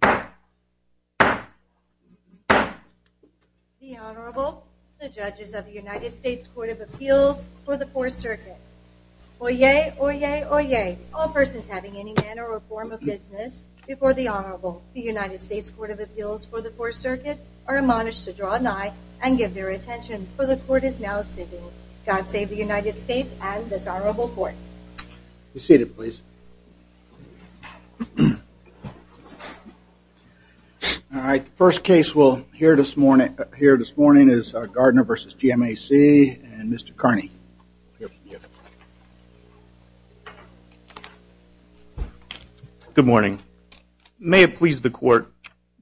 The Honorable, the Judges of the United States Court of Appeals for the Fourth Circuit. Oyez, oyez, oyez, all persons having any manner or form of business before the Honorable, the United States Court of Appeals for the Fourth Circuit are admonished to draw an eye and give their attention, for the Court is now sitting. God save the United States and this Honorable Court. Be seated, please. All right, the first case we'll hear this morning is Gardner v. GMAC and Mr. Kearney. Good morning. May it please the Court,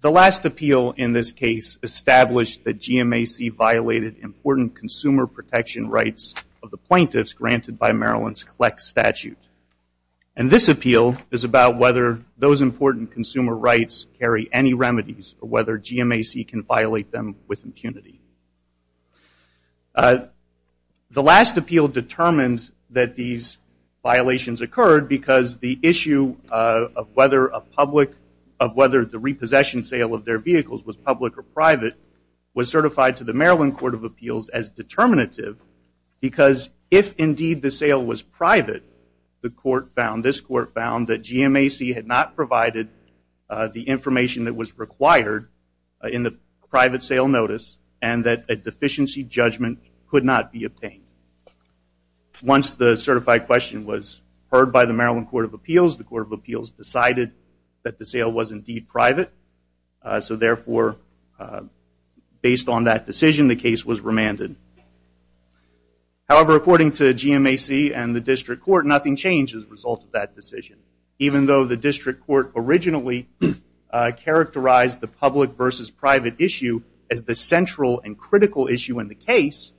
the last appeal in this case established that GMAC violated important consumer protection rights of the plaintiffs granted by Maryland's CLEC statute. And this appeal is about whether those important consumer rights carry any remedies or whether GMAC can violate them with impunity. The last appeal determines that these violations occurred because the issue of whether a public, of whether the repossession sale of their vehicles was public or private, was certified to the Maryland Court of Appeals as determinative, because if indeed the sale was private, the Court found, this Court found, that GMAC had not provided the information that was required in the private sale notice and that a deficiency judgment could not be obtained. Once the certified question was heard by the Maryland Court of Appeals, the Court of Appeals decided that the sale was indeed private, so therefore, based on that decision, the case was remanded. However, according to GMAC and the District Court, nothing changed as a result of that decision. Even though the District Court originally characterized the public versus private issue as the central and critical issue in the case,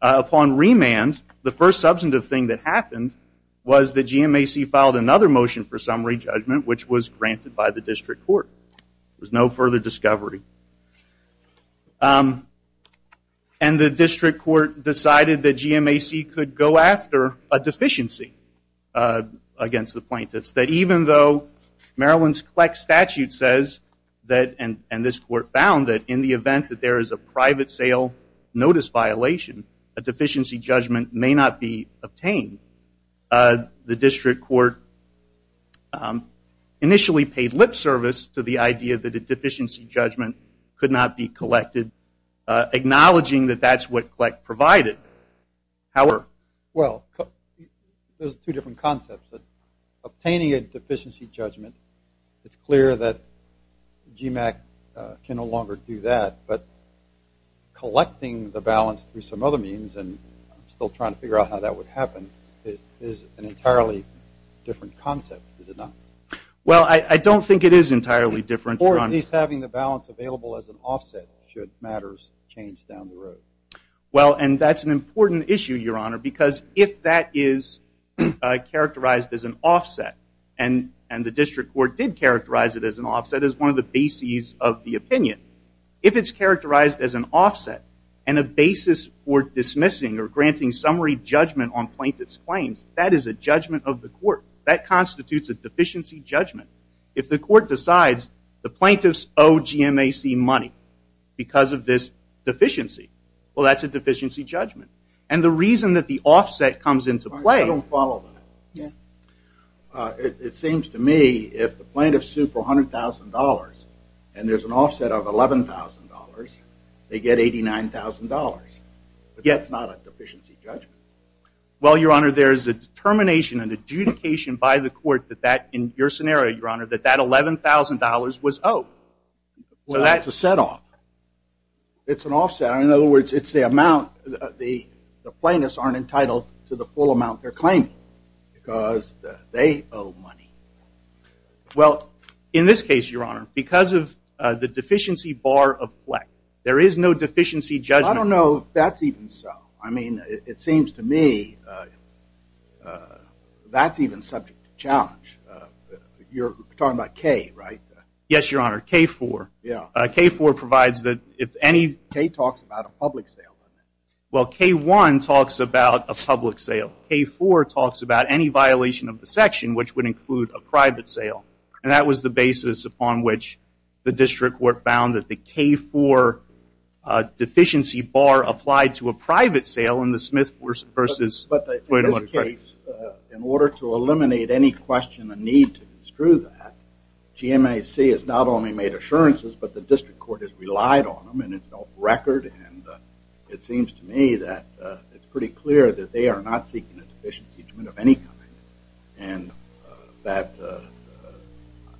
upon remand, the first substantive thing that happened was that GMAC filed another motion for summary judgment, which was granted by the District Court. There was no further discovery. And the District Court decided that GMAC could go after a deficiency against the plaintiffs, that even though Maryland's CLEC statute says that, and this Court found, that in the event that there is a private sale notice violation, a deficiency judgment may not be obtained. The District Court initially paid lip service to the idea that a deficiency judgment could not be collected, acknowledging that that's what CLEC provided. Well, there's two different concepts. Obtaining a deficiency judgment, it's clear that GMAC can no longer do that, but collecting the balance through some other means, and I'm still trying to figure out how that would happen, is an entirely different concept, is it not? Well, I don't think it is entirely different. Or at least having the balance available as an offset should matters change down the road. Well, and that's an important issue, Your Honor, because if that is characterized as an offset, and the District Court did characterize it as an offset, as one of the bases of the opinion, if it's characterized as an offset and a basis for dismissing or granting summary judgment on plaintiff's claims, that is a judgment of the Court. That constitutes a deficiency judgment. If the Court decides the plaintiffs owe GMAC money because of this deficiency, well, that's a deficiency judgment. And the reason that the offset comes into play... I don't follow that. It seems to me if the plaintiffs sue for $100,000 and there's an offset of $11,000, they get $89,000, but that's not a deficiency judgment. Well, Your Honor, there is a determination and adjudication by the Court that that, in your scenario, Your Honor, that that $11,000 was owed. Well, that's a set-off. It's an offset. In other words, it's the amount the plaintiffs aren't entitled to the full amount they're claiming because they owe money. Well, in this case, Your Honor, because of the deficiency bar of PLEC, there is no deficiency judgment. I don't know if that's even so. I mean, it seems to me that's even subject to challenge. You're talking about K, right? Yes, Your Honor, K-4. Yeah. K-4 provides that if any... K talks about a public sale. Well, K-1 talks about a public sale. K-4 talks about any violation of the section, which would include a private sale, and that was the basis upon which the district court found that the K-4 deficiency bar applied to a private sale in the Smith versus... But in this case, in order to eliminate any question of need to construe that, GMAC has not only made assurances, but the district court has relied on them, and it's held record. And it seems to me that it's pretty clear that they are not seeking a deficiency judgment of any kind. And that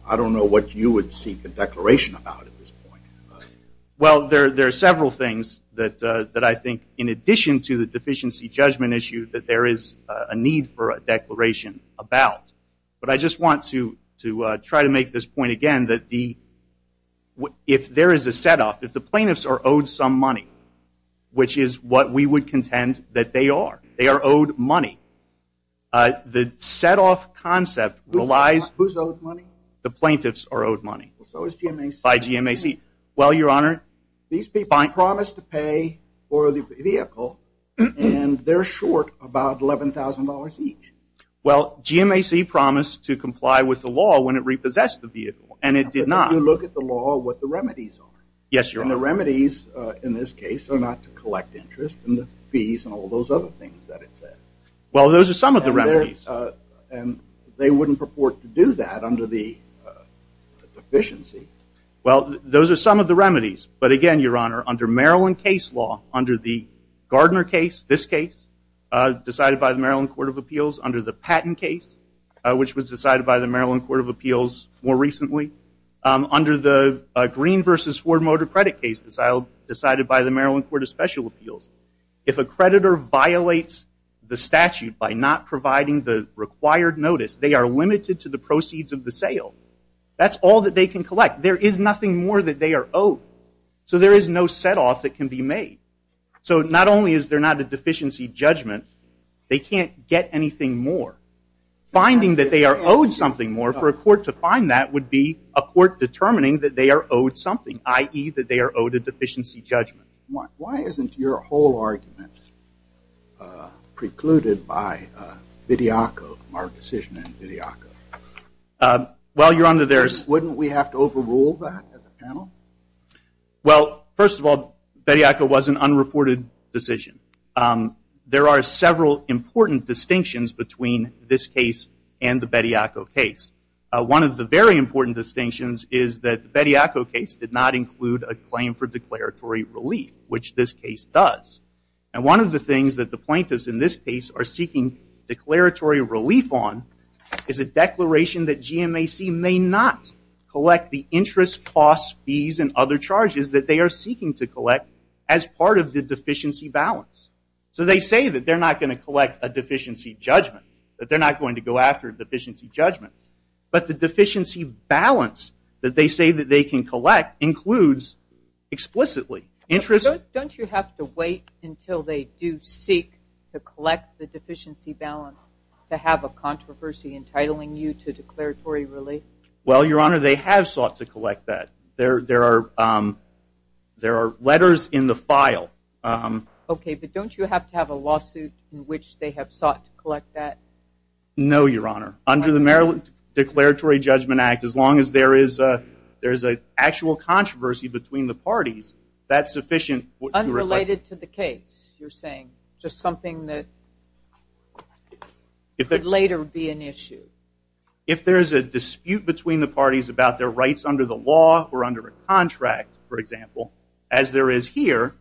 I don't know what you would seek a declaration about at this point. Well, there are several things that I think, in addition to the deficiency judgment issue, that there is a need for a declaration about. But I just want to try to make this point again that if there is a set-off, if the plaintiffs are owed some money, which is what we would contend that they are, they are owed money, the set-off concept relies... Who's owed money? The plaintiffs are owed money. So is GMAC. By GMAC. Well, Your Honor, these people promised to pay for the vehicle, and they're short about $11,000 each. Well, GMAC promised to comply with the law when it repossessed the vehicle, and it did not. But if you look at the law, what the remedies are. Yes, Your Honor. And the remedies, in this case, are not to collect interest and the fees and all those other things that it says. Well, those are some of the remedies. And they wouldn't purport to do that under the deficiency. Well, those are some of the remedies. But again, Your Honor, under Maryland case law, under the Gardner case, this case, decided by the Maryland Court of Appeals, under the Patton case, which was decided by the Maryland Court of Appeals more recently, under the Green v. Ford Motor Credit case decided by the Maryland Court of Special Appeals, if a creditor violates the statute by not providing the required notice, they are limited to the proceeds of the sale. That's all that they can collect. There is nothing more that they are owed. So there is no set-off that can be made. So not only is there not a deficiency judgment, they can't get anything more. Finding that they are owed something more, for a court to find that, would be a court determining that they are owed something, i.e., that they are owed a deficiency judgment. Why isn't your whole argument precluded by Bediaco, Mark's decision in Bediaco? Well, Your Honor, there's... Wouldn't we have to overrule that as a panel? Well, first of all, Bediaco was an unreported decision. There are several important distinctions between this case and the Bediaco case. One of the very important distinctions is that the Bediaco case did not include a claim for declaratory relief, which this case does. And one of the things that the plaintiffs in this case are seeking declaratory relief on is a declaration that GMAC may not collect the interest costs, fees, and other charges that they are seeking to collect as part of the deficiency balance. So they say that they're not going to collect a deficiency judgment, that they're not going to go after a deficiency judgment. But the deficiency balance that they say that they can collect includes explicitly interest... Don't you have to wait until they do seek to collect the deficiency balance to have a controversy entitling you to declaratory relief? Well, Your Honor, they have sought to collect that. There are letters in the file. Okay, but don't you have to have a lawsuit in which they have sought to collect that? No, Your Honor. Under the Maryland Declaratory Judgment Act, as long as there is an actual controversy between the parties, that's sufficient to request... It would later be an issue. If there is a dispute between the parties about their rights under the law or under a contract, for example, as there is here,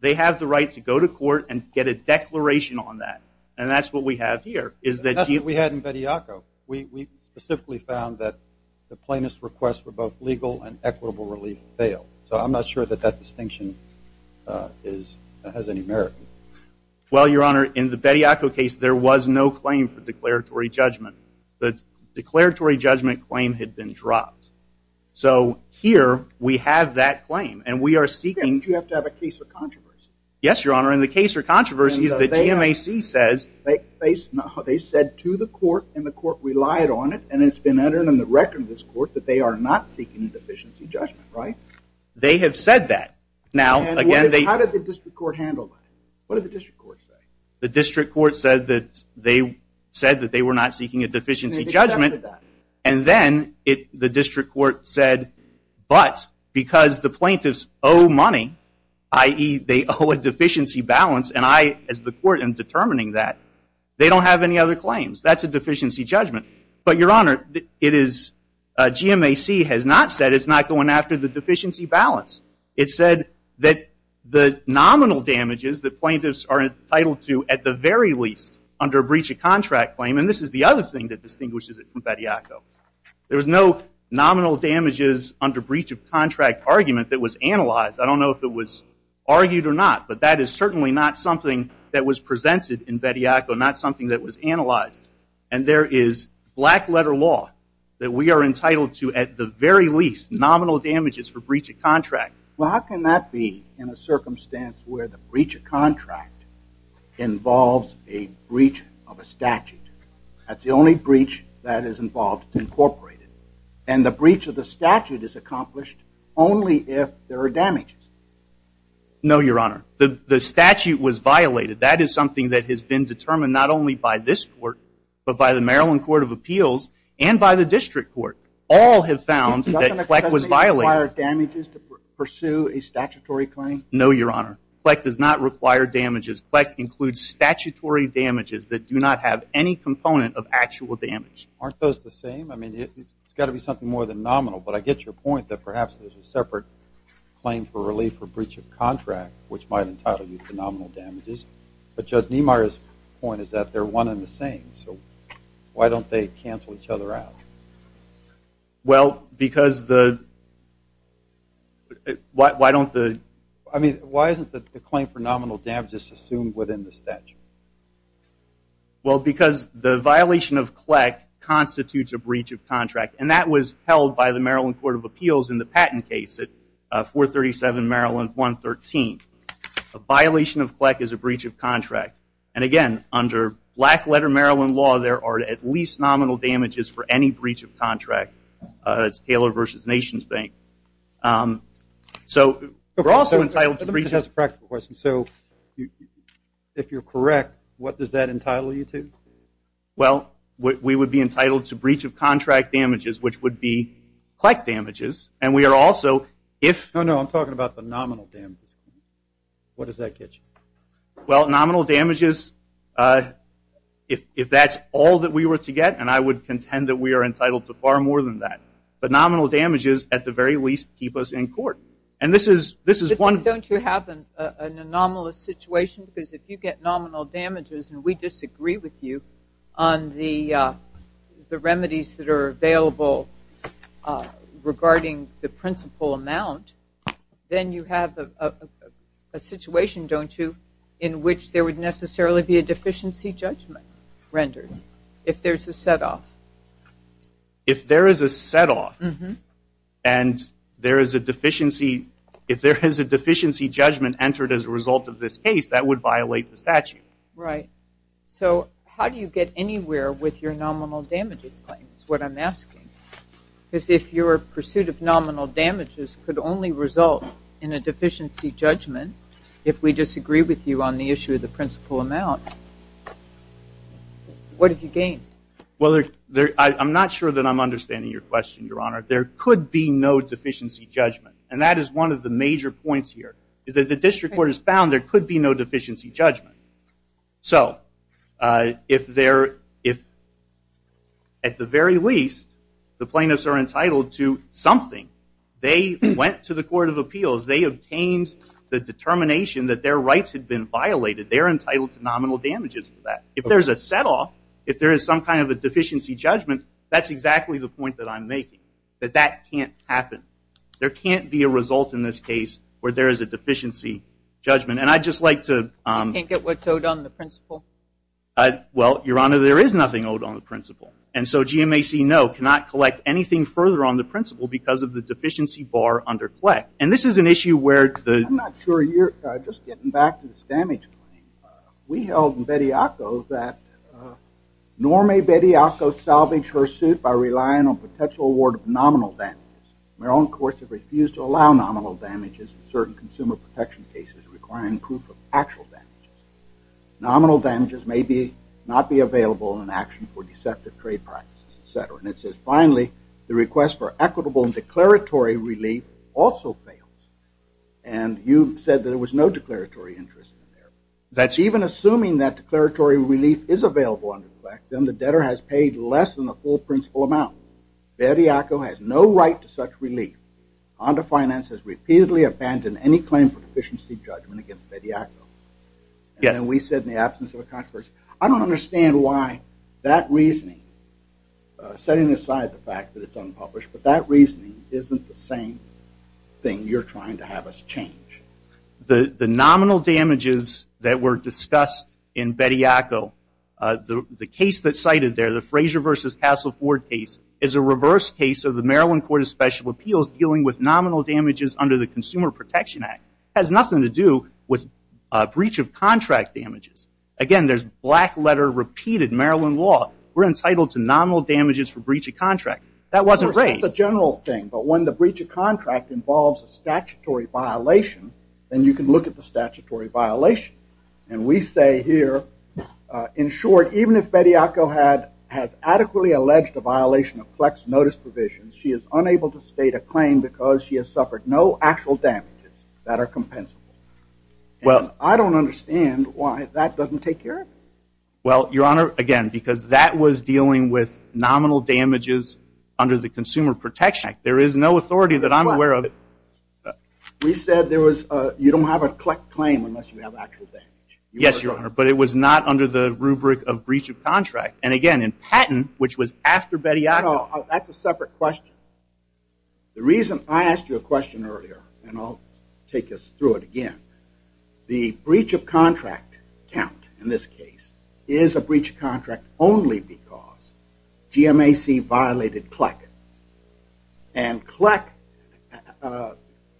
they have the right to go to court and get a declaration on that. And that's what we have here. That's what we had in Bediaco. We specifically found that the plaintiff's request for both legal and equitable relief failed. So I'm not sure that that distinction has any merit. Well, Your Honor, in the Bediaco case, there was no claim for declaratory judgment. The declaratory judgment claim had been dropped. So here we have that claim, and we are seeking... But you have to have a case or controversy. Yes, Your Honor, and the case or controversy is that GMAC says... They said to the court, and the court relied on it, and it's been entered in the record of this court that they are not seeking a deficiency judgment, right? They have said that. Now, again, they... How did the district court handle that? What did the district court say? The district court said that they were not seeking a deficiency judgment, and then the district court said, but because the plaintiffs owe money, i.e., they owe a deficiency balance, and I, as the court, am determining that, they don't have any other claims. That's a deficiency judgment. But, Your Honor, it is... GMAC has not said it's not going after the deficiency balance. It said that the nominal damages that plaintiffs are entitled to, at the very least, under a breach of contract claim, and this is the other thing that distinguishes it from Betty Ako. There was no nominal damages under breach of contract argument that was analyzed. I don't know if it was argued or not, but that is certainly not something that was presented in Betty Ako, not something that was analyzed. And there is black-letter law that we are entitled to, at the very least, nominal damages for breach of contract. Well, how can that be in a circumstance where the breach of contract involves a breach of a statute? That's the only breach that is involved incorporated, and the breach of the statute is accomplished only if there are damages. No, Your Honor. The statute was violated. That is something that has been determined not only by this court, but by the Maryland Court of Appeals and by the district court. All have found that CLEC was violated. Doesn't it require damages to pursue a statutory claim? No, Your Honor. CLEC does not require damages. CLEC includes statutory damages that do not have any component of actual damage. Aren't those the same? I mean, it's got to be something more than nominal, but I get your point that perhaps there's a separate claim for relief for breach of contract, which might entitle you to nominal damages. But Judge Niemeyer's point is that they're one and the same, so why don't they cancel each other out? Well, because the – why don't the – I mean, why isn't the claim for nominal damages assumed within the statute? Well, because the violation of CLEC constitutes a breach of contract, and that was held by the Maryland Court of Appeals in the patent case at 437 Maryland 113. A violation of CLEC is a breach of contract. And, again, under black-letter Maryland law, there are at least nominal damages for any breach of contract. It's Taylor v. Nations Bank. So we're also entitled to breach of – Let me just ask a practical question. So if you're correct, what does that entitle you to? Well, we would be entitled to breach of contract damages, which would be CLEC damages, and we are also, if – No, no, I'm talking about the nominal damages. What does that get you? Well, nominal damages, if that's all that we were to get, and I would contend that we are entitled to far more than that. But nominal damages, at the very least, keep us in court. And this is one – Don't you have an anomalous situation? Because if you get nominal damages, and we disagree with you on the remedies that are available regarding the in which there would necessarily be a deficiency judgment rendered, if there's a set-off. If there is a set-off and there is a deficiency – if there is a deficiency judgment entered as a result of this case, that would violate the statute. Right. So how do you get anywhere with your nominal damages claim is what I'm asking. Because if your pursuit of nominal damages could only result in a deficiency judgment, if we disagree with you on the issue of the principal amount, what do you gain? Well, I'm not sure that I'm understanding your question, Your Honor. There could be no deficiency judgment. And that is one of the major points here, is that the district court has found there could be no deficiency judgment. So if at the very least the plaintiffs are entitled to something, they went to the court of appeals, they obtained the determination that their rights had been violated, they're entitled to nominal damages for that. If there's a set-off, if there is some kind of a deficiency judgment, that's exactly the point that I'm making, that that can't happen. There can't be a result in this case where there is a deficiency judgment. And I'd just like to – You can't get what's owed on the principal? Well, Your Honor, there is nothing owed on the principal. And so GMAC, no, GMAC cannot collect anything further on the principal because of the deficiency bar under play. And this is an issue where the – I'm not sure you're – just getting back to this damage claim, we held in Betty Occo that nor may Betty Occo salvage her suit by relying on potential award of nominal damages. Maryland courts have refused to allow nominal damages in certain consumer protection cases requiring proof of actual damages. Nominal damages may not be available in action for deceptive trade practices, et cetera. And it says, finally, the request for equitable and declaratory relief also fails. And you said there was no declaratory interest in there. That's even assuming that declaratory relief is available under the fact that the debtor has paid less than the full principal amount. Betty Occo has no right to such relief. Honda Finance has repeatedly abandoned any claim for deficiency judgment against Betty Occo. Yes. And we said in the absence of a controversy, I don't understand why that reasoning, setting aside the fact that it's unpublished, but that reasoning isn't the same thing you're trying to have us change. The nominal damages that were discussed in Betty Occo, the case that's cited there, the Fraser v. Castle Ford case, is a reverse case of the Maryland Court of Special Appeals dealing with nominal damages under the Consumer Protection Act. It has nothing to do with breach of contract damages. Again, there's black letter repeated Maryland law. We're entitled to nominal damages for breach of contract. That wasn't raised. That's a general thing, but when the breach of contract involves a statutory violation, then you can look at the statutory violation. And we say here, in short, even if Betty Occo has adequately alleged a violation of flex notice provisions, she is unable to state a claim because she has suffered no actual damages that are compensable. I don't understand why that doesn't take care of it. Well, Your Honor, again, because that was dealing with nominal damages under the Consumer Protection Act. There is no authority that I'm aware of. We said you don't have a claim unless you have actual damage. Yes, Your Honor, but it was not under the rubric of breach of contract. And again, in Patton, which was after Betty Occo. No, that's a separate question. The reason I asked you a question earlier, and I'll take us through it again, the breach of contract count, in this case, is a breach of contract only because GMAC violated CLEC. And CLEC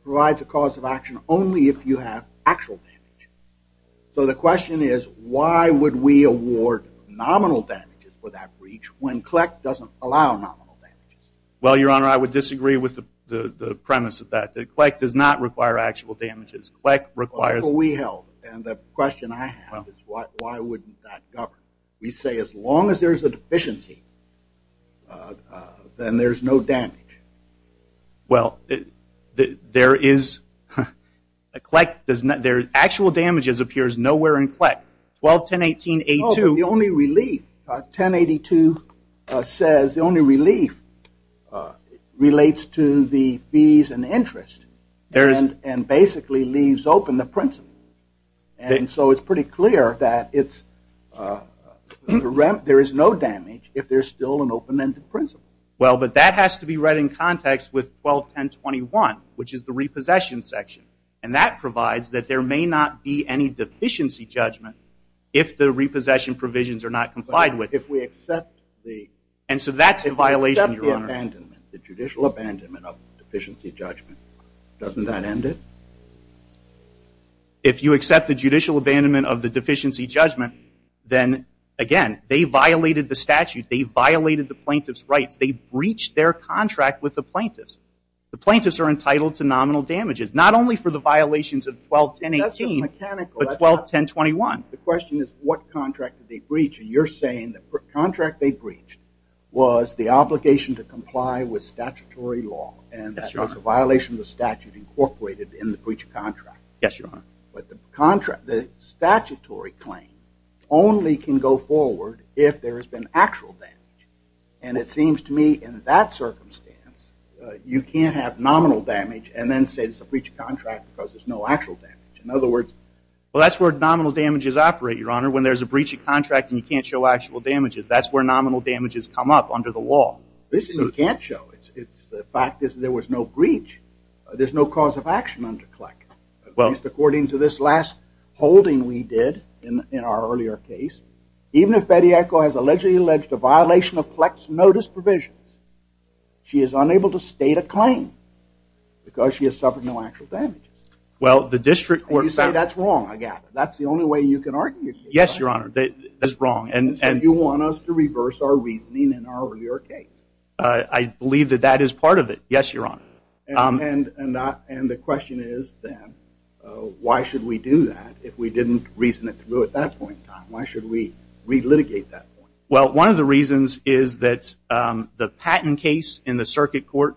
provides a cause of action only if you have actual damage. So the question is, why would we award nominal damages for that breach when CLEC doesn't allow nominal damages? Well, Your Honor, I would disagree with the premise of that. CLEC does not require actual damages. CLEC requires... Well, we held it. And the question I have is why wouldn't that govern? We say as long as there's a deficiency, then there's no damage. Well, there is... CLEC does not... Actual damages appears nowhere in CLEC. 12-10-18-A-2... 10-82 says the only relief relates to the fees and interest and basically leaves open the principle. And so it's pretty clear that there is no damage if there's still an open-ended principle. Well, but that has to be read in context with 12-10-21, which is the repossession section. And that provides that there may not be any deficiency judgment if the repossession provisions are not complied with. But if we accept the... And so that's a violation, Your Honor. If we accept the abandonment, the judicial abandonment of deficiency judgment, doesn't that end it? If you accept the judicial abandonment of the deficiency judgment, then, again, they violated the statute. They violated the plaintiff's rights. They breached their contract with the plaintiffs. The plaintiffs are entitled to nominal damages, not only for the violations of 12-10-18... But the question is what contract did they breach? And you're saying the contract they breached was the obligation to comply with statutory law. And that's a violation of the statute incorporated in the breach of contract. Yes, Your Honor. But the statutory claim only can go forward if there has been actual damage. And it seems to me in that circumstance you can't have nominal damage and then say it's a breach of contract because there's no actual damage. In other words... Well, that's where nominal damages operate, Your Honor. When there's a breach of contract and you can't show actual damages, that's where nominal damages come up under the law. This is what you can't show. It's the fact that there was no breach. There's no cause of action under CLEC, at least according to this last holding we did in our earlier case. Even if Betty Echo has allegedly alleged a violation of CLEC's notice provisions, she is unable to state a claim because she has suffered no actual damages. Well, the district court... You say that's wrong, I gather. That's the only way you can argue. Yes, Your Honor. That is wrong. And so you want us to reverse our reasoning in our earlier case. I believe that that is part of it. Yes, Your Honor. And the question is, then, why should we do that if we didn't reason it through at that point in time? Why should we relitigate that point? Well, one of the reasons is that the patent case in the circuit court,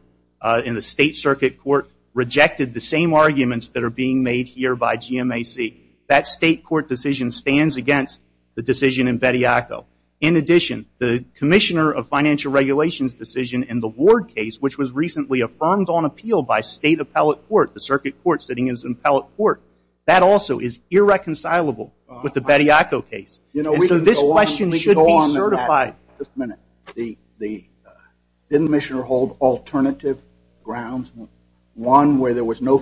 in the state circuit court, rejected the same arguments that are being made here by GMAC. That state court decision stands against the decision in Betty Echo. In addition, the Commissioner of Financial Regulations decision in the Ward case, which was recently affirmed on appeal by state appellate court, the circuit court sitting as appellate court, that also is irreconcilable with the Betty Echo case. And so this question should be certified. Just a minute. Didn't the Commissioner hold alternative grounds, one where there was no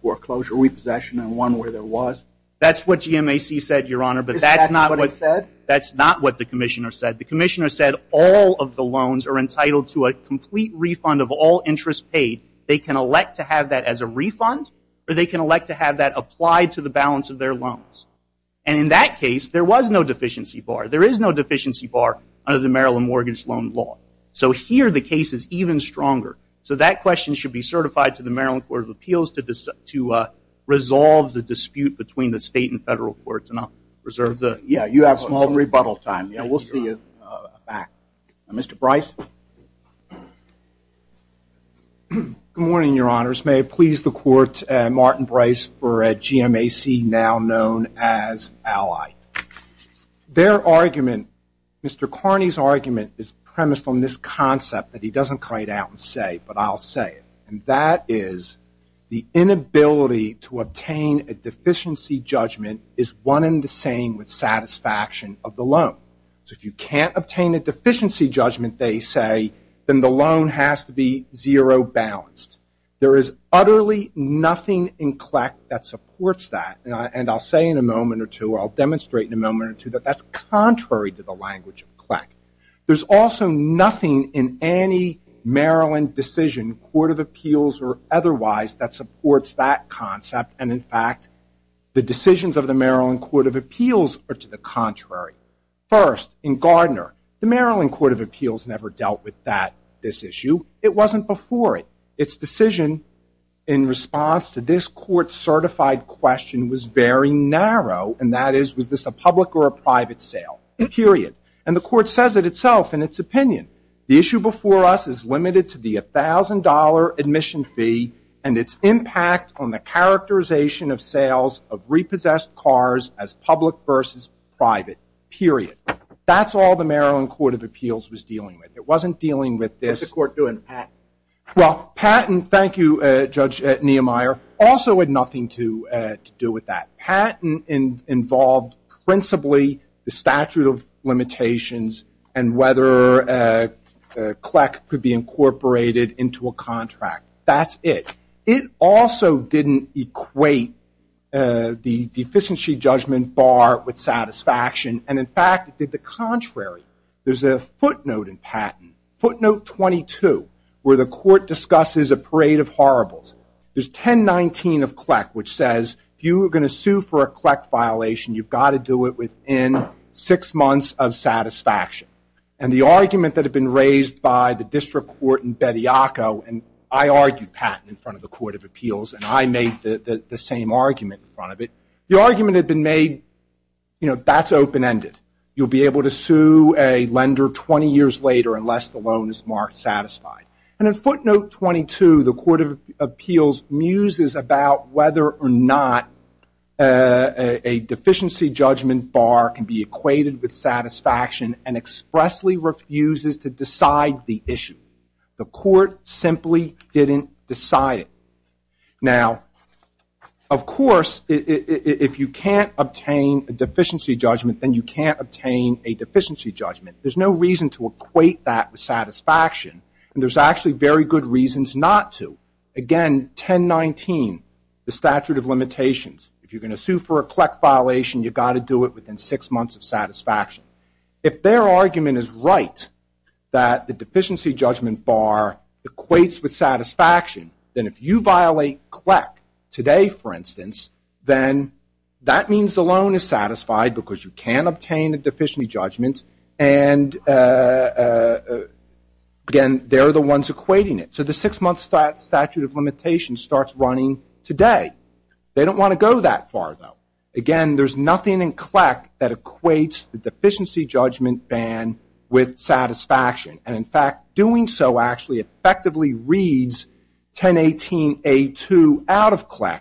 foreclosure repossession and one where there was? That's what GMAC said, Your Honor, but that's not what the Commissioner said. The Commissioner said all of the loans are entitled to a complete refund of all interest paid. They can elect to have that as a refund or they can elect to have that applied to the balance of their loans. And in that case, there was no deficiency bar. There is no deficiency bar under the Maryland Mortgage Loan Law. So here the case is even stronger. So that question should be certified to the Maryland Court of Appeals to resolve the dispute between the state and federal courts and not reserve the- Yeah, you have small rebuttal time. We'll see you back. Mr. Bryce? Good morning, Your Honors. May it please the Court, Martin Bryce for GMAC, now known as Ally. Their argument, Mr. Carney's argument, is premised on this concept that he doesn't quite out and say, but I'll say it, and that is the inability to obtain a deficiency judgment is one in the same with satisfaction of the loan. So if you can't obtain a deficiency judgment, they say, then the loan has to be zero balanced. There is utterly nothing in CLEC that supports that, and I'll say in a moment or two, or I'll demonstrate in a moment or two, that that's contrary to the language of CLEC. There's also nothing in any Maryland decision, court of appeals or otherwise, that supports that concept, and, in fact, the decisions of the Maryland Court of Appeals are to the contrary. First, in Gardner, the Maryland Court of Appeals never dealt with this issue. It wasn't before it. Its decision in response to this court-certified question was very narrow, and that is, was this a public or a private sale, period. And the court says it itself in its opinion. The issue before us is limited to the $1,000 admission fee and its impact on the characterization of sales of repossessed cars as public versus private, period. That's all the Maryland Court of Appeals was dealing with. It wasn't dealing with this. Well, patent, thank you, Judge Niemeyer, also had nothing to do with that. Patent involved principally the statute of limitations and whether CLEC could be incorporated into a contract. That's it. It also didn't equate the deficiency judgment bar with satisfaction, and, in fact, it did the contrary. There's a footnote in patent, footnote 22, where the court discusses a parade of horribles. There's 1019 of CLEC, which says if you were going to sue for a CLEC violation, you've got to do it within six months of satisfaction. And the argument that had been raised by the district court in Bediaco, and I argued patent in front of the Court of Appeals, and I made the same argument in front of it. The argument had been made, you know, that's open-ended. You'll be able to sue a lender 20 years later unless the loan is marked satisfied. And in footnote 22, the Court of Appeals muses about whether or not a deficiency judgment bar can be equated with satisfaction and expressly refuses to decide the issue. The court simply didn't decide it. Now, of course, if you can't obtain a deficiency judgment, then you can't obtain a deficiency judgment. There's no reason to equate that with satisfaction, and there's actually very good reasons not to. Again, 1019, the statute of limitations, if you're going to sue for a CLEC violation, you've got to do it within six months of satisfaction. If their argument is right that the deficiency judgment bar equates with satisfaction, then if you violate CLEC today, for instance, then that means the loan is satisfied because you can't obtain a deficiency judgment, and, again, they're the ones equating it. So the six-month statute of limitations starts running today. They don't want to go that far, though. Again, there's nothing in CLEC that equates the deficiency judgment ban with satisfaction. And, in fact, doing so actually effectively reads 1018A2 out of CLEC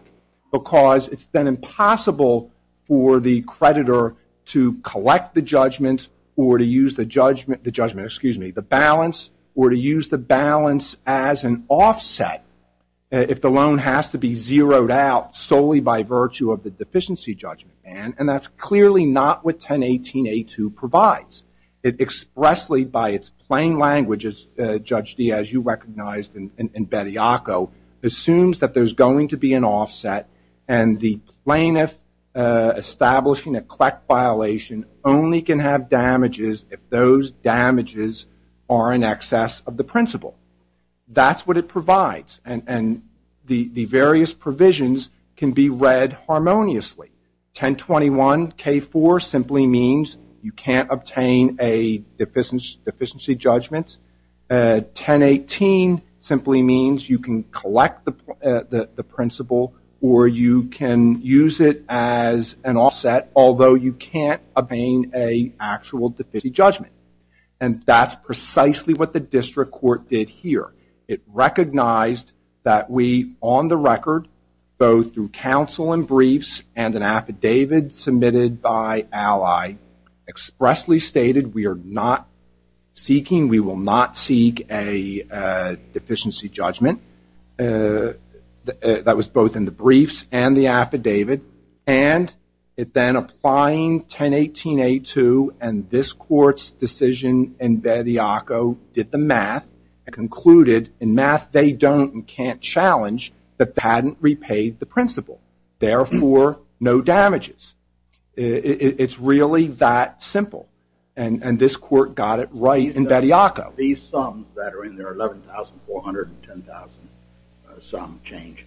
because it's then impossible for the creditor to collect the judgment or to use the judgment, excuse me, the balance, or to use the balance as an offset if the loan has to be zeroed out solely by virtue of the deficiency judgment. And that's clearly not what 1018A2 provides. It expressly, by its plain language, as Judge Diaz, you recognized, assumes that there's going to be an offset, and the plaintiff establishing a CLEC violation only can have damages if those damages are in excess of the principle. That's what it provides, and the various provisions can be read harmoniously. 1021K4 simply means you can't obtain a deficiency judgment. 1018 simply means you can collect the principle or you can use it as an offset, although you can't obtain an actual deficiency judgment. And that's precisely what the district court did here. It recognized that we, on the record, both through counsel and briefs and an affidavit submitted by ally, expressly stated we are not seeking, we will not seek a deficiency judgment. That was both in the briefs and the affidavit, and it then applying 1018A2 and this court's decision in Vediacco did the math and concluded, in math they don't and can't challenge, that they hadn't repaid the principle. Therefore, no damages. It's really that simple, and this court got it right in Vediacco. These sums that are in there, 11,400 and 10,000-sum change,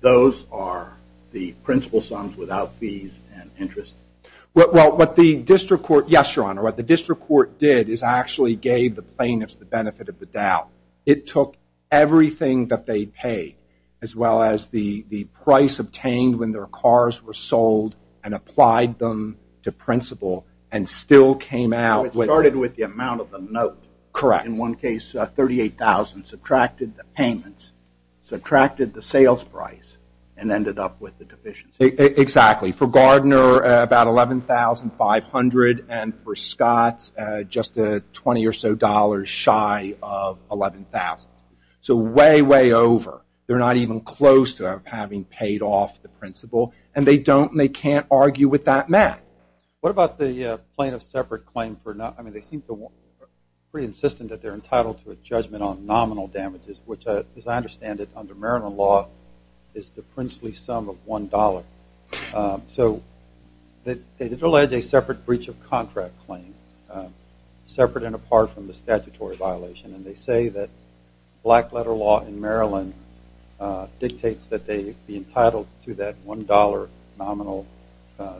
those are the principle sums without fees and interest? Well, what the district court, yes, Your Honor, what the district court did is actually gave the plaintiffs the benefit of the doubt. It took everything that they paid, as well as the price obtained when their cars were sold, and applied them to principle and still came out. It started with the amount of the note. Correct. In one case, 38,000, subtracted the payments, subtracted the sales price, and ended up with the deficiency. Exactly. For Gardner, about 11,500, and for Scott, just 20 or so dollars shy of 11,000. So way, way over. They're not even close to having paid off the principle, and they can't argue with that math. What about the plaintiff's separate claim? They seem pretty insistent that they're entitled to a judgment on nominal damages, which, as I understand it, under Maryland law, is the princely sum of $1. So they did allege a separate breach of contract claim, separate and apart from the statutory violation, and they say that black-letter law in Maryland dictates that they be entitled to that $1 nominal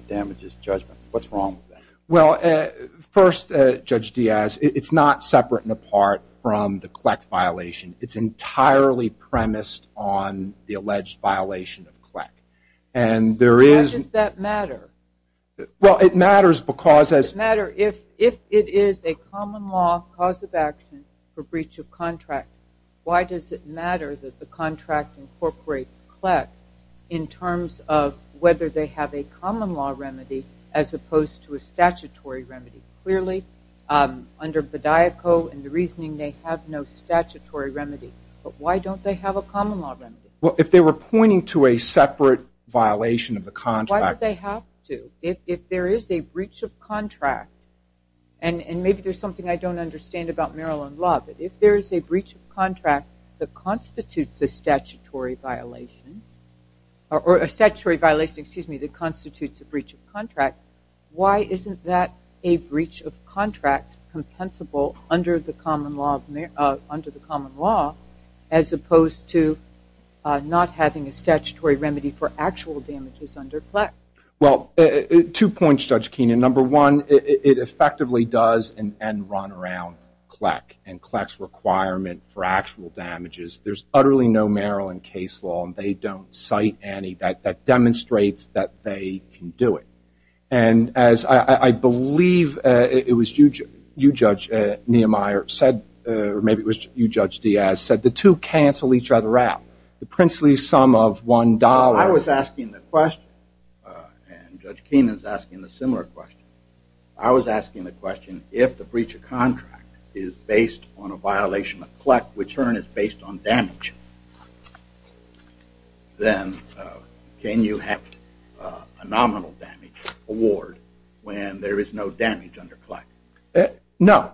damages judgment. What's wrong with that? Well, first, Judge Diaz, it's not separate and apart from the CLEC violation. It's entirely premised on the alleged violation of CLEC. How does that matter? Well, it matters because as— If it is a common law cause of action for breach of contract, why does it matter that the contract incorporates CLEC in terms of whether they have a common law remedy as opposed to a statutory remedy? Clearly, under Bidiaco and the reasoning, they have no statutory remedy, but why don't they have a common law remedy? Well, if they were pointing to a separate violation of the contract— Why would they have to? If there is a breach of contract, and maybe there's something I don't understand about Maryland law, but if there is a breach of contract that constitutes a statutory violation, or a statutory violation, excuse me, that constitutes a breach of contract, why isn't that a breach of contract compensable under the common law as opposed to not having a statutory remedy for actual damages under CLEC? Well, two points, Judge Keenan. Number one, it effectively does an end-run around CLEC and CLEC's requirement for actual damages. There's utterly no Maryland case law, and they don't cite any, that demonstrates that they can do it. And as I believe it was you, Judge Nehemiah, or maybe it was you, Judge Diaz, said, the two cancel each other out. The princely sum of $1— and Judge Keenan's asking a similar question. I was asking the question, if the breach of contract is based on a violation of CLEC, which, in turn, is based on damage, then can you have a nominal damage award when there is no damage under CLEC? No.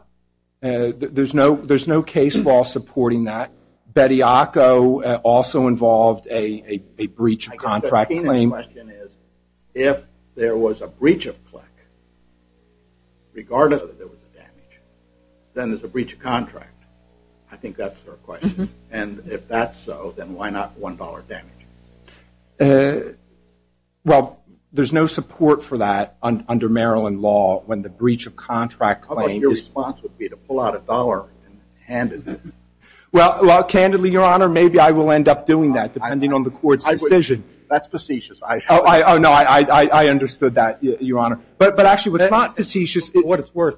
There's no case law supporting that. Betty Ako also involved a breach of contract claim. I guess the Keenan question is, if there was a breach of CLEC, regardless of whether there was a damage, then there's a breach of contract. I think that's her question. And if that's so, then why not $1 damage? Well, there's no support for that under Maryland law when the breach of contract claim is— How about your response would be to pull out a dollar and hand it in? Well, candidly, Your Honor, maybe I will end up doing that, depending on the court's decision. That's facetious. Oh, no, I understood that, Your Honor. But actually, what's not facetious is— For what it's worth,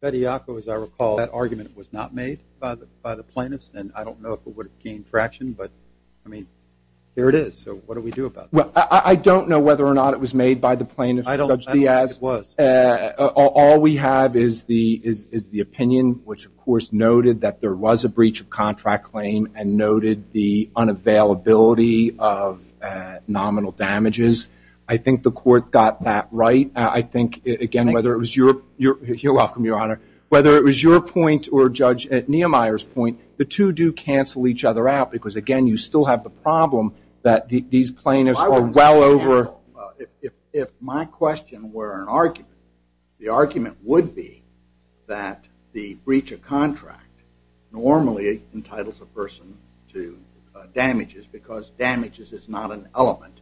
Betty Ako, as I recall, that argument was not made by the plaintiffs, and I don't know if it would have gained traction, but, I mean, there it is. So what do we do about it? Well, I don't know whether or not it was made by the plaintiffs, Judge Diaz. I don't know if it was. All we have is the opinion, which, of course, noted that there was a breach of contract claim and noted the unavailability of nominal damages. I think the court got that right. I think, again, whether it was your— Thank you. You're welcome, Your Honor. Whether it was your point or, Judge, Nehemiah's point, the two do cancel each other out because, again, you still have the problem that these plaintiffs are well over— If my question were an argument, the argument would be that the breach of contract normally entitles a person to damages because damages is not an element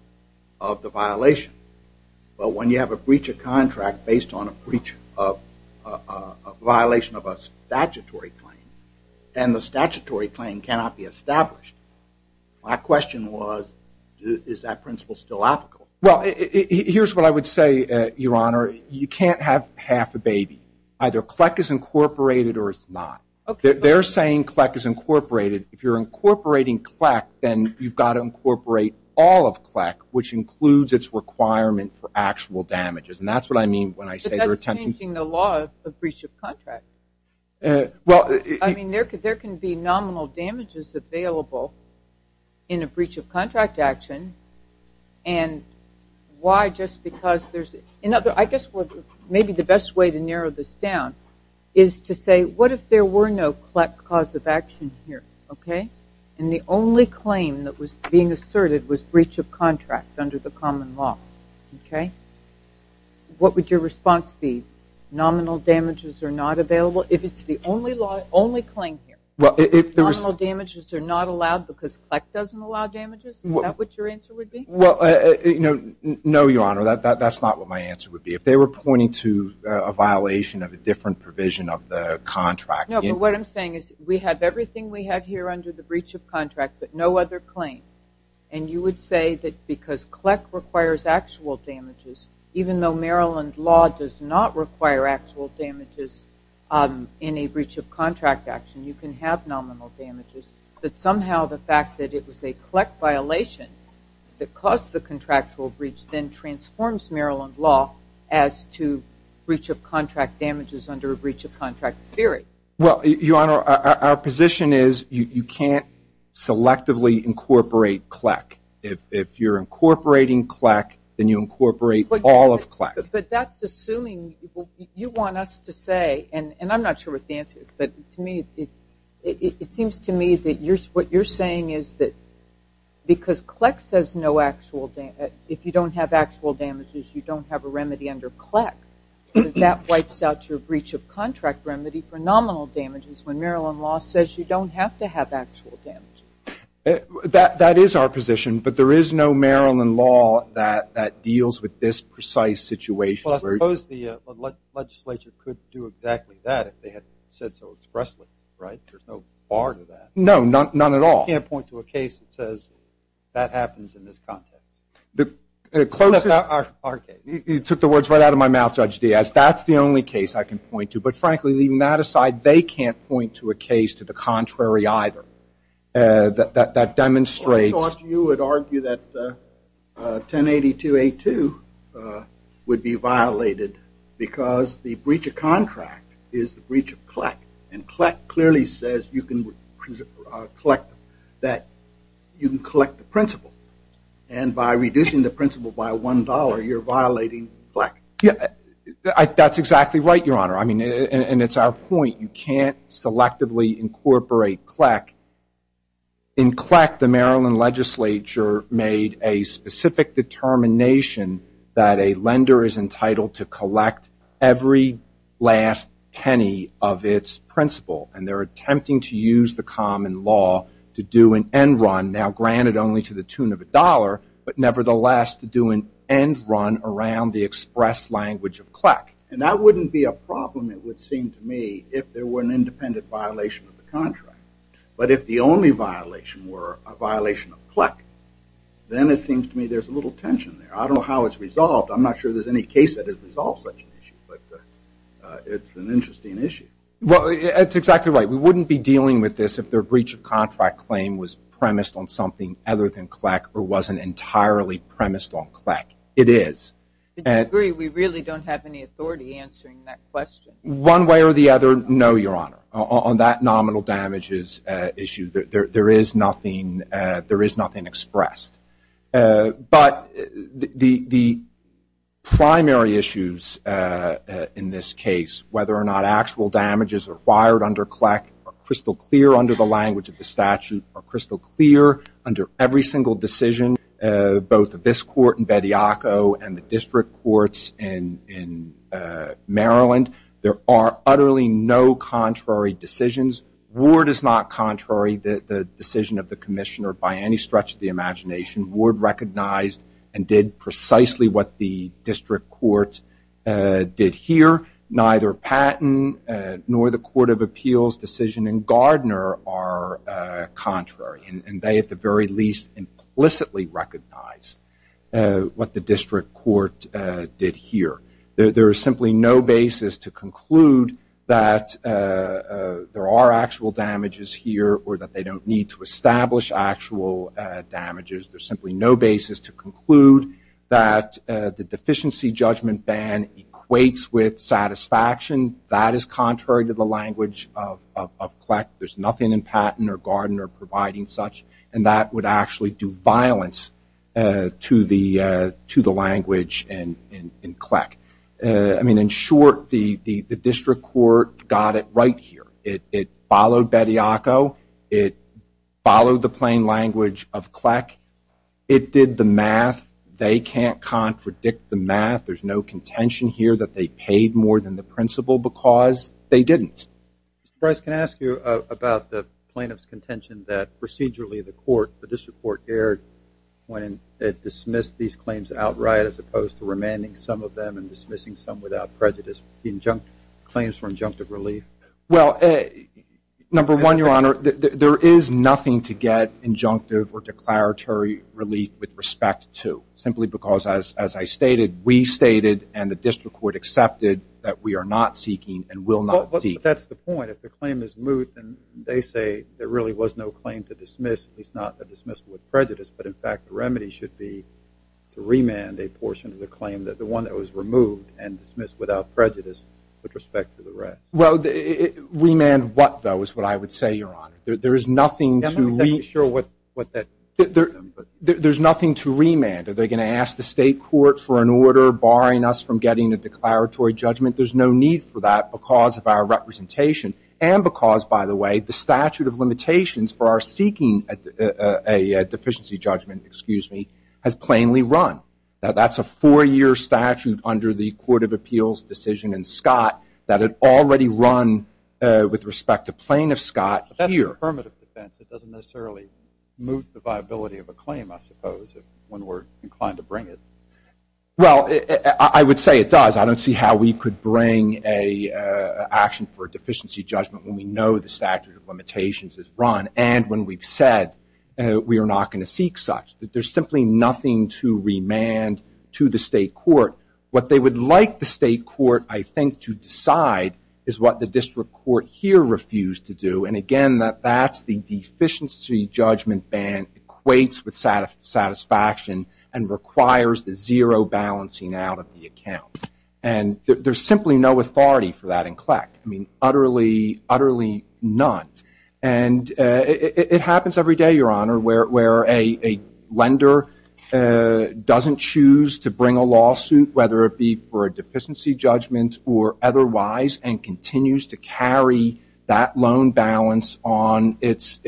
of the violation. But when you have a breach of contract based on a violation of a statutory claim and the statutory claim cannot be established, my question was, is that principle still applicable? Well, here's what I would say, Your Honor. You can't have half a baby. Either CLEC is incorporated or it's not. They're saying CLEC is incorporated. If you're incorporating CLEC, then you've got to incorporate all of CLEC, which includes its requirement for actual damages. And that's what I mean when I say they're attempting— But that's changing the law of breach of contract. Well— I mean, there can be nominal damages available in a breach of contract action and why just because there's— I guess maybe the best way to narrow this down is to say what if there were no CLEC cause of action here, okay? And the only claim that was being asserted was breach of contract under the common law, okay? What would your response be? Nominal damages are not available? If it's the only claim here, nominal damages are not allowed because CLEC doesn't allow damages? Is that what your answer would be? Well, no, Your Honor. That's not what my answer would be. If they were pointing to a violation of a different provision of the contract— No, but what I'm saying is we have everything we have here under the breach of contract but no other claim. And you would say that because CLEC requires actual damages, even though Maryland law does not require actual damages in a breach of contract action, you can have nominal damages, but somehow the fact that it was a CLEC violation that caused the contractual breach then transforms Maryland law as to breach of contract damages under a breach of contract theory. Well, Your Honor, our position is you can't selectively incorporate CLEC. If you're incorporating CLEC, then you incorporate all of CLEC. But that's assuming—you want us to say— and I'm not sure what the answer is, but to me it seems to me that what you're saying is that because CLEC says if you don't have actual damages, you don't have a remedy under CLEC, that that wipes out your breach of contract remedy for nominal damages when Maryland law says you don't have to have actual damages. That is our position, but there is no Maryland law that deals with this precise situation. Well, I suppose the legislature could do exactly that if they had said so expressly, right? There's no bar to that. No, none at all. You can't point to a case that says that happens in this context. The closest— Look, our case. You took the words right out of my mouth, Judge Diaz. That's the only case I can point to. But frankly, leaving that aside, they can't point to a case to the contrary either that demonstrates— would be violated because the breach of contract is the breach of CLEC, and CLEC clearly says you can collect the principal, and by reducing the principal by $1, you're violating CLEC. That's exactly right, Your Honor, and it's our point. You can't selectively incorporate CLEC. In CLEC, the Maryland legislature made a specific determination that a lender is entitled to collect every last penny of its principal, and they're attempting to use the common law to do an end run, now granted only to the tune of a dollar, but nevertheless to do an end run around the express language of CLEC. And that wouldn't be a problem, it would seem to me, if there were an independent violation of the contract. But if the only violation were a violation of CLEC, then it seems to me there's a little tension there. I don't know how it's resolved. I'm not sure there's any case that has resolved such an issue, but it's an interesting issue. Well, that's exactly right. We wouldn't be dealing with this if their breach of contract claim was premised on something other than CLEC or wasn't entirely premised on CLEC. It is. Do you agree we really don't have any authority answering that question? One way or the other, no, Your Honor. On that nominal damages issue, there is nothing expressed. But the primary issues in this case, whether or not actual damages required under CLEC are crystal clear under the language of the statute, are crystal clear under every single decision, both of this court in Bediaco and the district courts in Maryland. There are utterly no contrary decisions. Ward is not contrary. The decision of the commissioner, by any stretch of the imagination, Ward recognized and did precisely what the district court did here. Neither Patton nor the Court of Appeals decision in Gardner are contrary. And they at the very least implicitly recognized what the district court did here. There is simply no basis to conclude that there are actual damages here or that they don't need to establish actual damages. There's simply no basis to conclude that the deficiency judgment ban equates That is contrary to the language of CLEC. There's nothing in Patton or Gardner providing such, and that would actually do violence to the language in CLEC. I mean, in short, the district court got it right here. It followed Bediaco. It followed the plain language of CLEC. It did the math. They can't contradict the math. There's no contention here that they paid more than the principal because they didn't. Mr. Price, can I ask you about the plaintiff's contention that procedurally the court, the district court, erred when it dismissed these claims outright as opposed to remanding some of them and dismissing some without prejudice, the claims for injunctive relief? Well, number one, Your Honor, there is nothing to get injunctive or declaratory relief with respect to, simply because, as I stated, we stated and the district court accepted that we are not seeking and will not dismiss. That's the point. If the claim is moot, then they say there really was no claim to dismiss, at least not a dismissal with prejudice, but in fact the remedy should be to remand a portion of the claim, the one that was removed and dismissed without prejudice with respect to the rest. Well, remand what, though, is what I would say, Your Honor. There is nothing to remand. Are they going to ask the state court for an order barring us from getting a declaratory judgment? There's no need for that because of our representation and because, by the way, the statute of limitations for our seeking a deficiency judgment, excuse me, has plainly run. That's a four-year statute under the Court of Appeals decision in Scott that had already run with respect to plaintiff Scott here. But that's affirmative defense. It doesn't necessarily moot the viability of a claim, I suppose, when we're inclined to bring it. Well, I would say it does. I don't see how we could bring an action for a deficiency judgment when we know the statute of limitations has run and when we've said we are not going to seek such. There's simply nothing to remand to the state court. What they would like the state court, I think, to decide is what the district court here refused to do. And, again, that's the deficiency judgment ban equates with satisfaction and requires the zero balancing out of the account. And there's simply no authority for that in CLEC. I mean, utterly none. And it happens every day, Your Honor, where a lender doesn't choose to bring a lawsuit, whether it be for a deficiency judgment or otherwise, and continues to carry that loan balance on its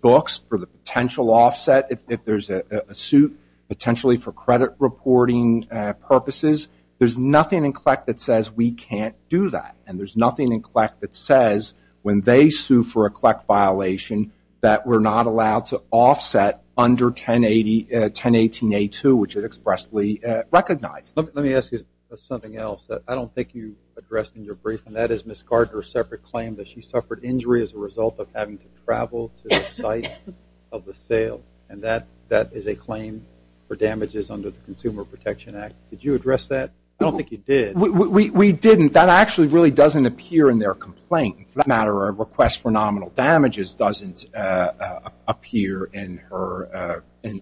books for the potential offset. If there's a suit potentially for credit reporting purposes, there's nothing in CLEC that says we can't do that. And there's nothing in CLEC that says when they sue for a CLEC violation that we're not allowed to offset under 1018A2, which it expressly recognized. Let me ask you something else that I don't think you addressed in your brief, and that is Ms. Gardner's separate claim that she suffered injury as a result of having to travel to the site of the sale. And that is a claim for damages under the Consumer Protection Act. Did you address that? I don't think you did. We didn't. That actually really doesn't appear in their complaint. For that matter, a request for nominal damages doesn't appear in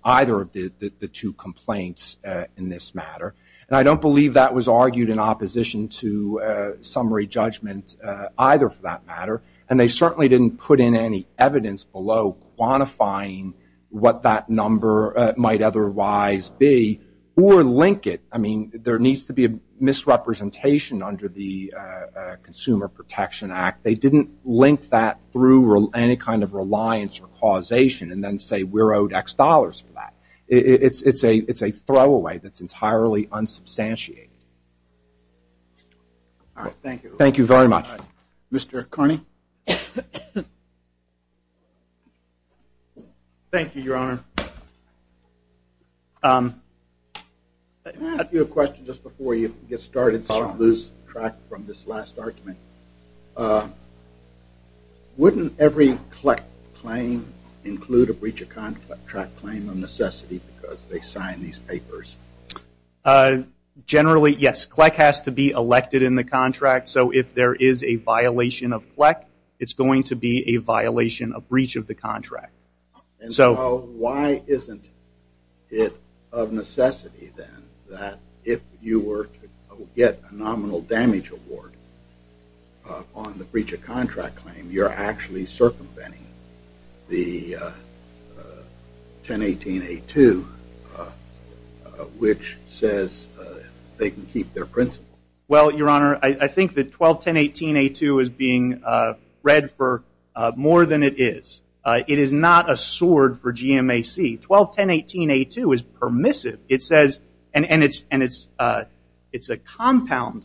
either of the two complaints in this matter. And I don't believe that was argued in opposition to summary judgment either, for that matter. And they certainly didn't put in any evidence below quantifying what that number might otherwise be or link it. I mean, there needs to be a misrepresentation under the Consumer Protection Act. They didn't link that through any kind of reliance or causation and then say we're owed X dollars for that. It's a throwaway that's entirely unsubstantiated. All right, thank you. Thank you very much. Mr. Carney? Thank you, Your Honor. I have a question just before you get started so I don't lose track from this last argument. Wouldn't every CLEC claim include a breach of contract claim of necessity because they signed these papers? Generally, yes. CLEC has to be elected in the contract. So if there is a violation of CLEC, it's going to be a violation, a breach of the contract. So why isn't it of necessity then that if you were to get a nominal damage award on the breach of contract claim, you're actually circumventing the 1018A2, which says they can keep their principle? Well, Your Honor, I think that 121018A2 is being read for more than it is. It is not a sword for GMAC. 121018A2 is permissive and it's a compound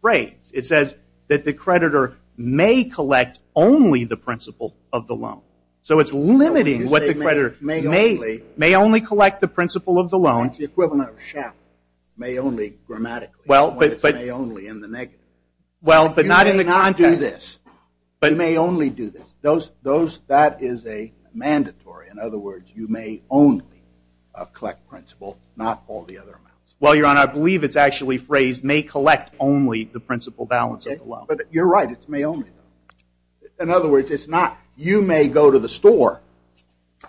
phrase. It says that the creditor may collect only the principle of the loan. So it's limiting what the creditor may only collect the principle of the loan. It's the equivalent of shaft, may only grammatically. It's may only in the negative. You may not do this. You may only do this. That is a mandatory. In other words, you may only collect principle, not all the other amounts. Well, Your Honor, I believe it's actually phrased may collect only the principle balance of the loan. But you're right. It's may only. In other words, it's not you may go to the store.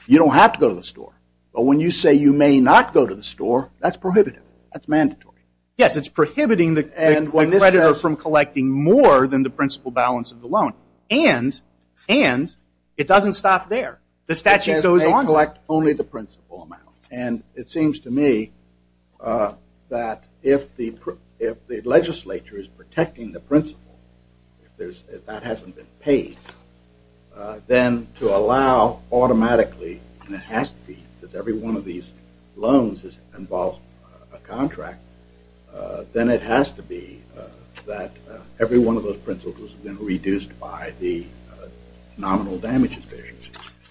You don't have to go to the store. But when you say you may not go to the store, that's prohibitive. That's mandatory. Yes, it's prohibiting the creditor from collecting more than the principle balance of the loan. And it doesn't stop there. The statute goes on. It says may collect only the principle amount. If that hasn't been paid, then to allow automatically, and it has to be because every one of these loans involves a contract, then it has to be that every one of those principles has been reduced by the nominal damages.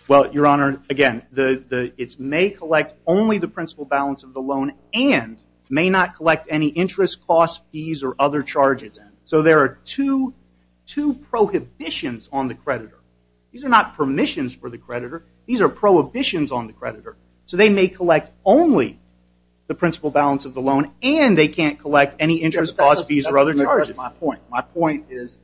Well, Your Honor, again, it's may collect only the principle balance of the loan and may not collect any interest costs, fees, or other charges. So there are two prohibitions on the creditor. These are not permissions for the creditor. These are prohibitions on the creditor. So they may collect only the principle balance of the loan and they can't collect any interest, costs, fees, or other charges. That's my point. My point is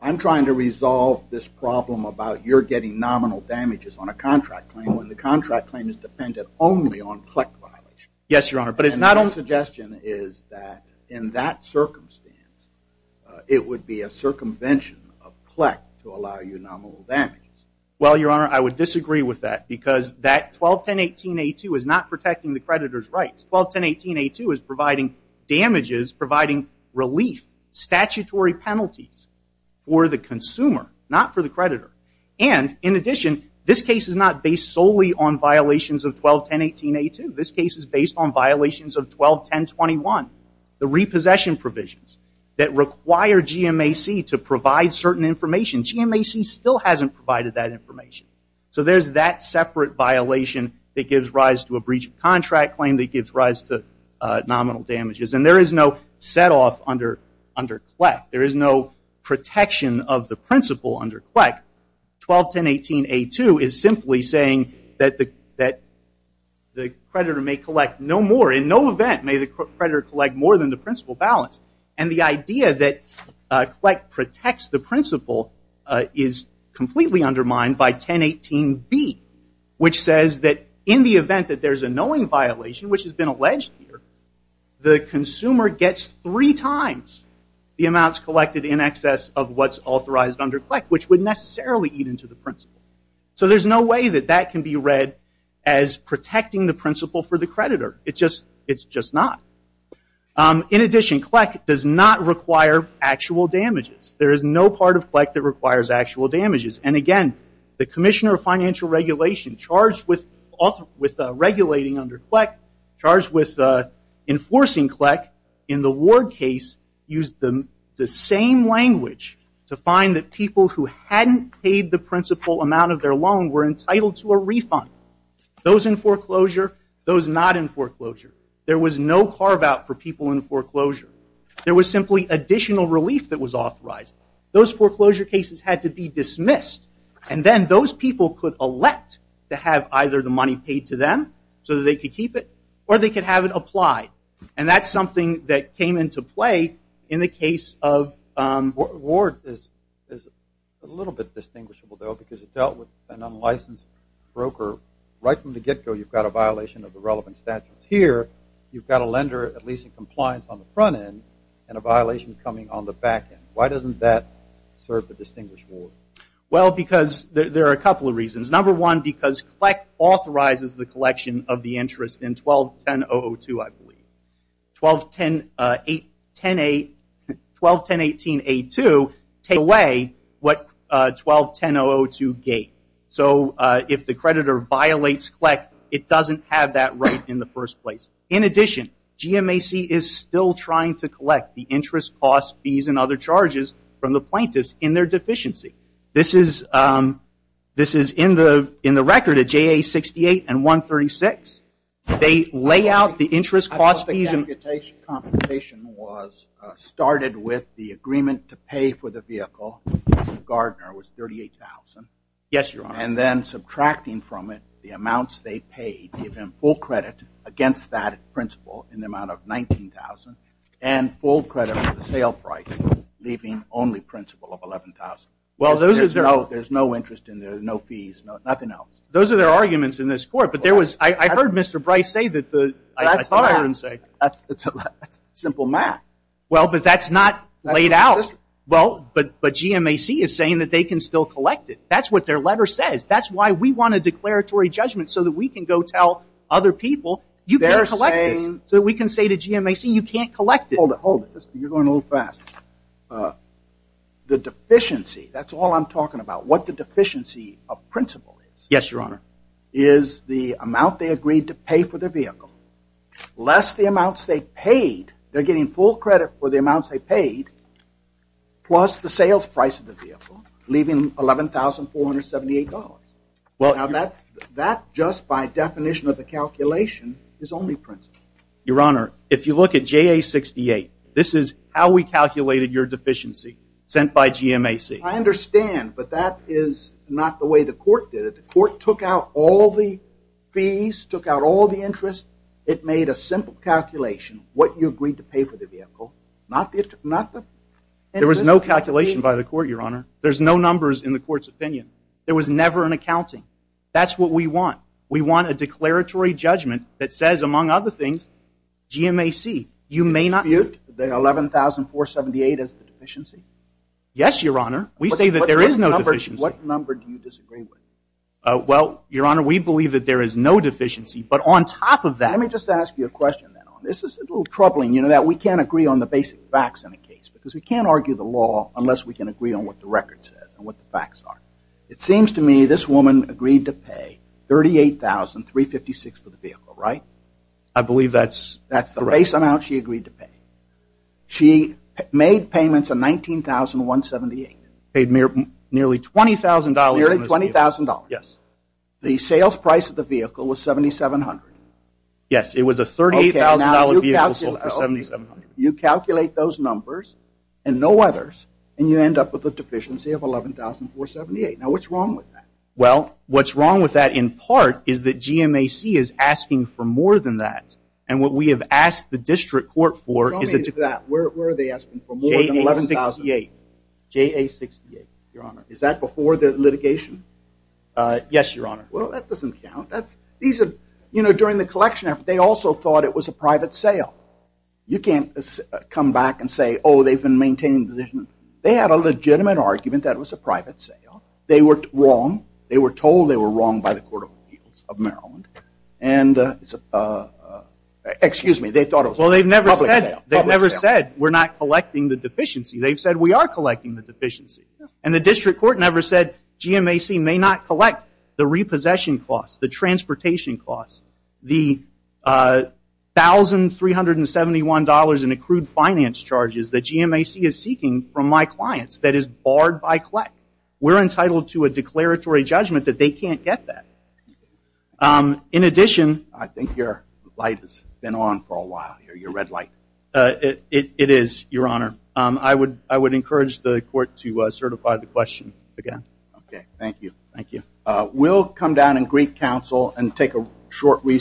I'm trying to resolve this problem about you're getting nominal damages on a contract claim when the contract claim is dependent only on collect violation. Yes, Your Honor. And my suggestion is that in that circumstance, it would be a circumvention of collect to allow you nominal damages. Well, Your Honor, I would disagree with that because that 121018A2 is not protecting the creditor's rights. 121018A2 is providing damages, providing relief, statutory penalties for the consumer, not for the creditor. And in addition, this case is not based solely on violations of 121018A2. This case is based on violations of 121021, the repossession provisions that require GMAC to provide certain information. GMAC still hasn't provided that information. So there's that separate violation that gives rise to a breach of contract claim, that gives rise to nominal damages. And there is no set-off under collect. There is no protection of the principle under collect. 121018A2 is simply saying that the creditor may collect no more. In no event may the creditor collect more than the principle balance. And the idea that collect protects the principle is completely undermined by 1018B, which says that in the event that there's a knowing violation, which has been alleged here, the consumer gets three times the amounts collected in excess of what's authorized under collect, which would necessarily eat into the principle. So there's no way that that can be read as protecting the principle for the creditor. It's just not. In addition, collect does not require actual damages. There is no part of collect that requires actual damages. And again, the commissioner of financial regulation charged with regulating under collect, charged with enforcing collect, in the Ward case, used the same language to find that people who hadn't paid the principle amount of their loan were entitled to a refund. Those in foreclosure, those not in foreclosure. There was no carve-out for people in foreclosure. There was simply additional relief that was authorized. Those foreclosure cases had to be dismissed. And then those people could elect to have either the money paid to them, so that they could keep it, or they could have it applied. And that's something that came into play in the case of Ward. Ward is a little bit distinguishable, though, because it dealt with an unlicensed broker right from the get-go. You've got a violation of the relevant statutes here. You've got a lender at least in compliance on the front end, and a violation coming on the back end. Why doesn't that serve to distinguish Ward? Well, because there are a couple of reasons. Number one, because CLEC authorizes the collection of the interest in 12-10-002, I believe. 12-10-18-A-2 takes away what 12-10-002 gave. So if the creditor violates CLEC, it doesn't have that right in the first place. In addition, GMAC is still trying to collect the interest costs, fees, and other charges from the plaintiffs in their deficiency. This is in the record at J.A. 68 and 136. They lay out the interest costs, fees, and- I thought the amputation compensation was started with the agreement to pay for the vehicle. Mr. Gardner, it was $38,000. Yes, Your Honor. And then subtracting from it the amounts they paid, give them full credit against that principle in the amount of $19,000, and full credit for the sale price, leaving only principle of $11,000. Well, those are their- There's no interest in there, no fees, nothing else. Those are their arguments in this court, but there was- I heard Mr. Bryce say that the- That's math. I thought I heard him say- That's simple math. Well, but that's not laid out. Well, but GMAC is saying that they can still collect it. That's what their letter says. That's why we want a declaratory judgment so that we can go tell other people, You can't collect this. They're saying- So we can say to GMAC, you can't collect it. Hold it, hold it. You're going a little fast. The deficiency, that's all I'm talking about, what the deficiency of principle is- Yes, Your Honor. Is the amount they agreed to pay for the vehicle, less the amounts they paid. They're getting full credit for the amounts they paid, plus the sales price of the vehicle, leaving $11,478. That, just by definition of the calculation, is only principle. Your Honor, if you look at JA-68, this is how we calculated your deficiency sent by GMAC. I understand, but that is not the way the court did it. The court took out all the fees, took out all the interest. It made a simple calculation, what you agreed to pay for the vehicle. There was no calculation by the court, Your Honor. There's no numbers in the court's opinion. There was never an accounting. That's what we want. We want a declaratory judgment that says, among other things, GMAC, you may not- You dispute the $11,478 as the deficiency? Yes, Your Honor. We say that there is no deficiency. What number do you disagree with? Well, Your Honor, we believe that there is no deficiency, but on top of that- Let me just ask you a question, then. This is a little troubling, you know, that we can't agree on the basic facts in a case, because we can't argue the law unless we can agree on what the record says and what the facts are. It seems to me this woman agreed to pay $38,356 for the vehicle, right? I believe that's- That's the base amount she agreed to pay. She made payments of $19,178. Paid nearly $20,000 on this vehicle. Nearly $20,000. Yes. The sales price of the vehicle was $7,700. Yes, it was a $38,000 vehicle sold for $7,700. You calculate those numbers and no others, and you end up with a deficiency of $11,478. Now, what's wrong with that? Well, what's wrong with that in part is that GMAC is asking for more than that, and what we have asked the district court for is- What's wrong with that? Where are they asking for more than $11,000? JA-68. JA-68, Your Honor. Is that before the litigation? Yes, Your Honor. Well, that doesn't count. These are, you know, during the collection, they also thought it was a private sale. You can't come back and say, oh, they've been maintaining the position. They had a legitimate argument that it was a private sale. They were wrong. They were told they were wrong by the Court of Appeals of Maryland, and it's a- excuse me, they thought it was a public sale. Well, they've never said we're not collecting the deficiency. They've said we are collecting the deficiency, and the district court never said GMAC may not collect the repossession costs, the transportation costs, the $1,371 in accrued finance charges that GMAC is seeking from my clients that is barred by CLEC. We're entitled to a declaratory judgment that they can't get that. In addition- I think your light has been on for a while here, your red light. It is, Your Honor. I would encourage the court to certify the question again. Okay, thank you. Thank you. We'll come down and greet counsel and take a short recess.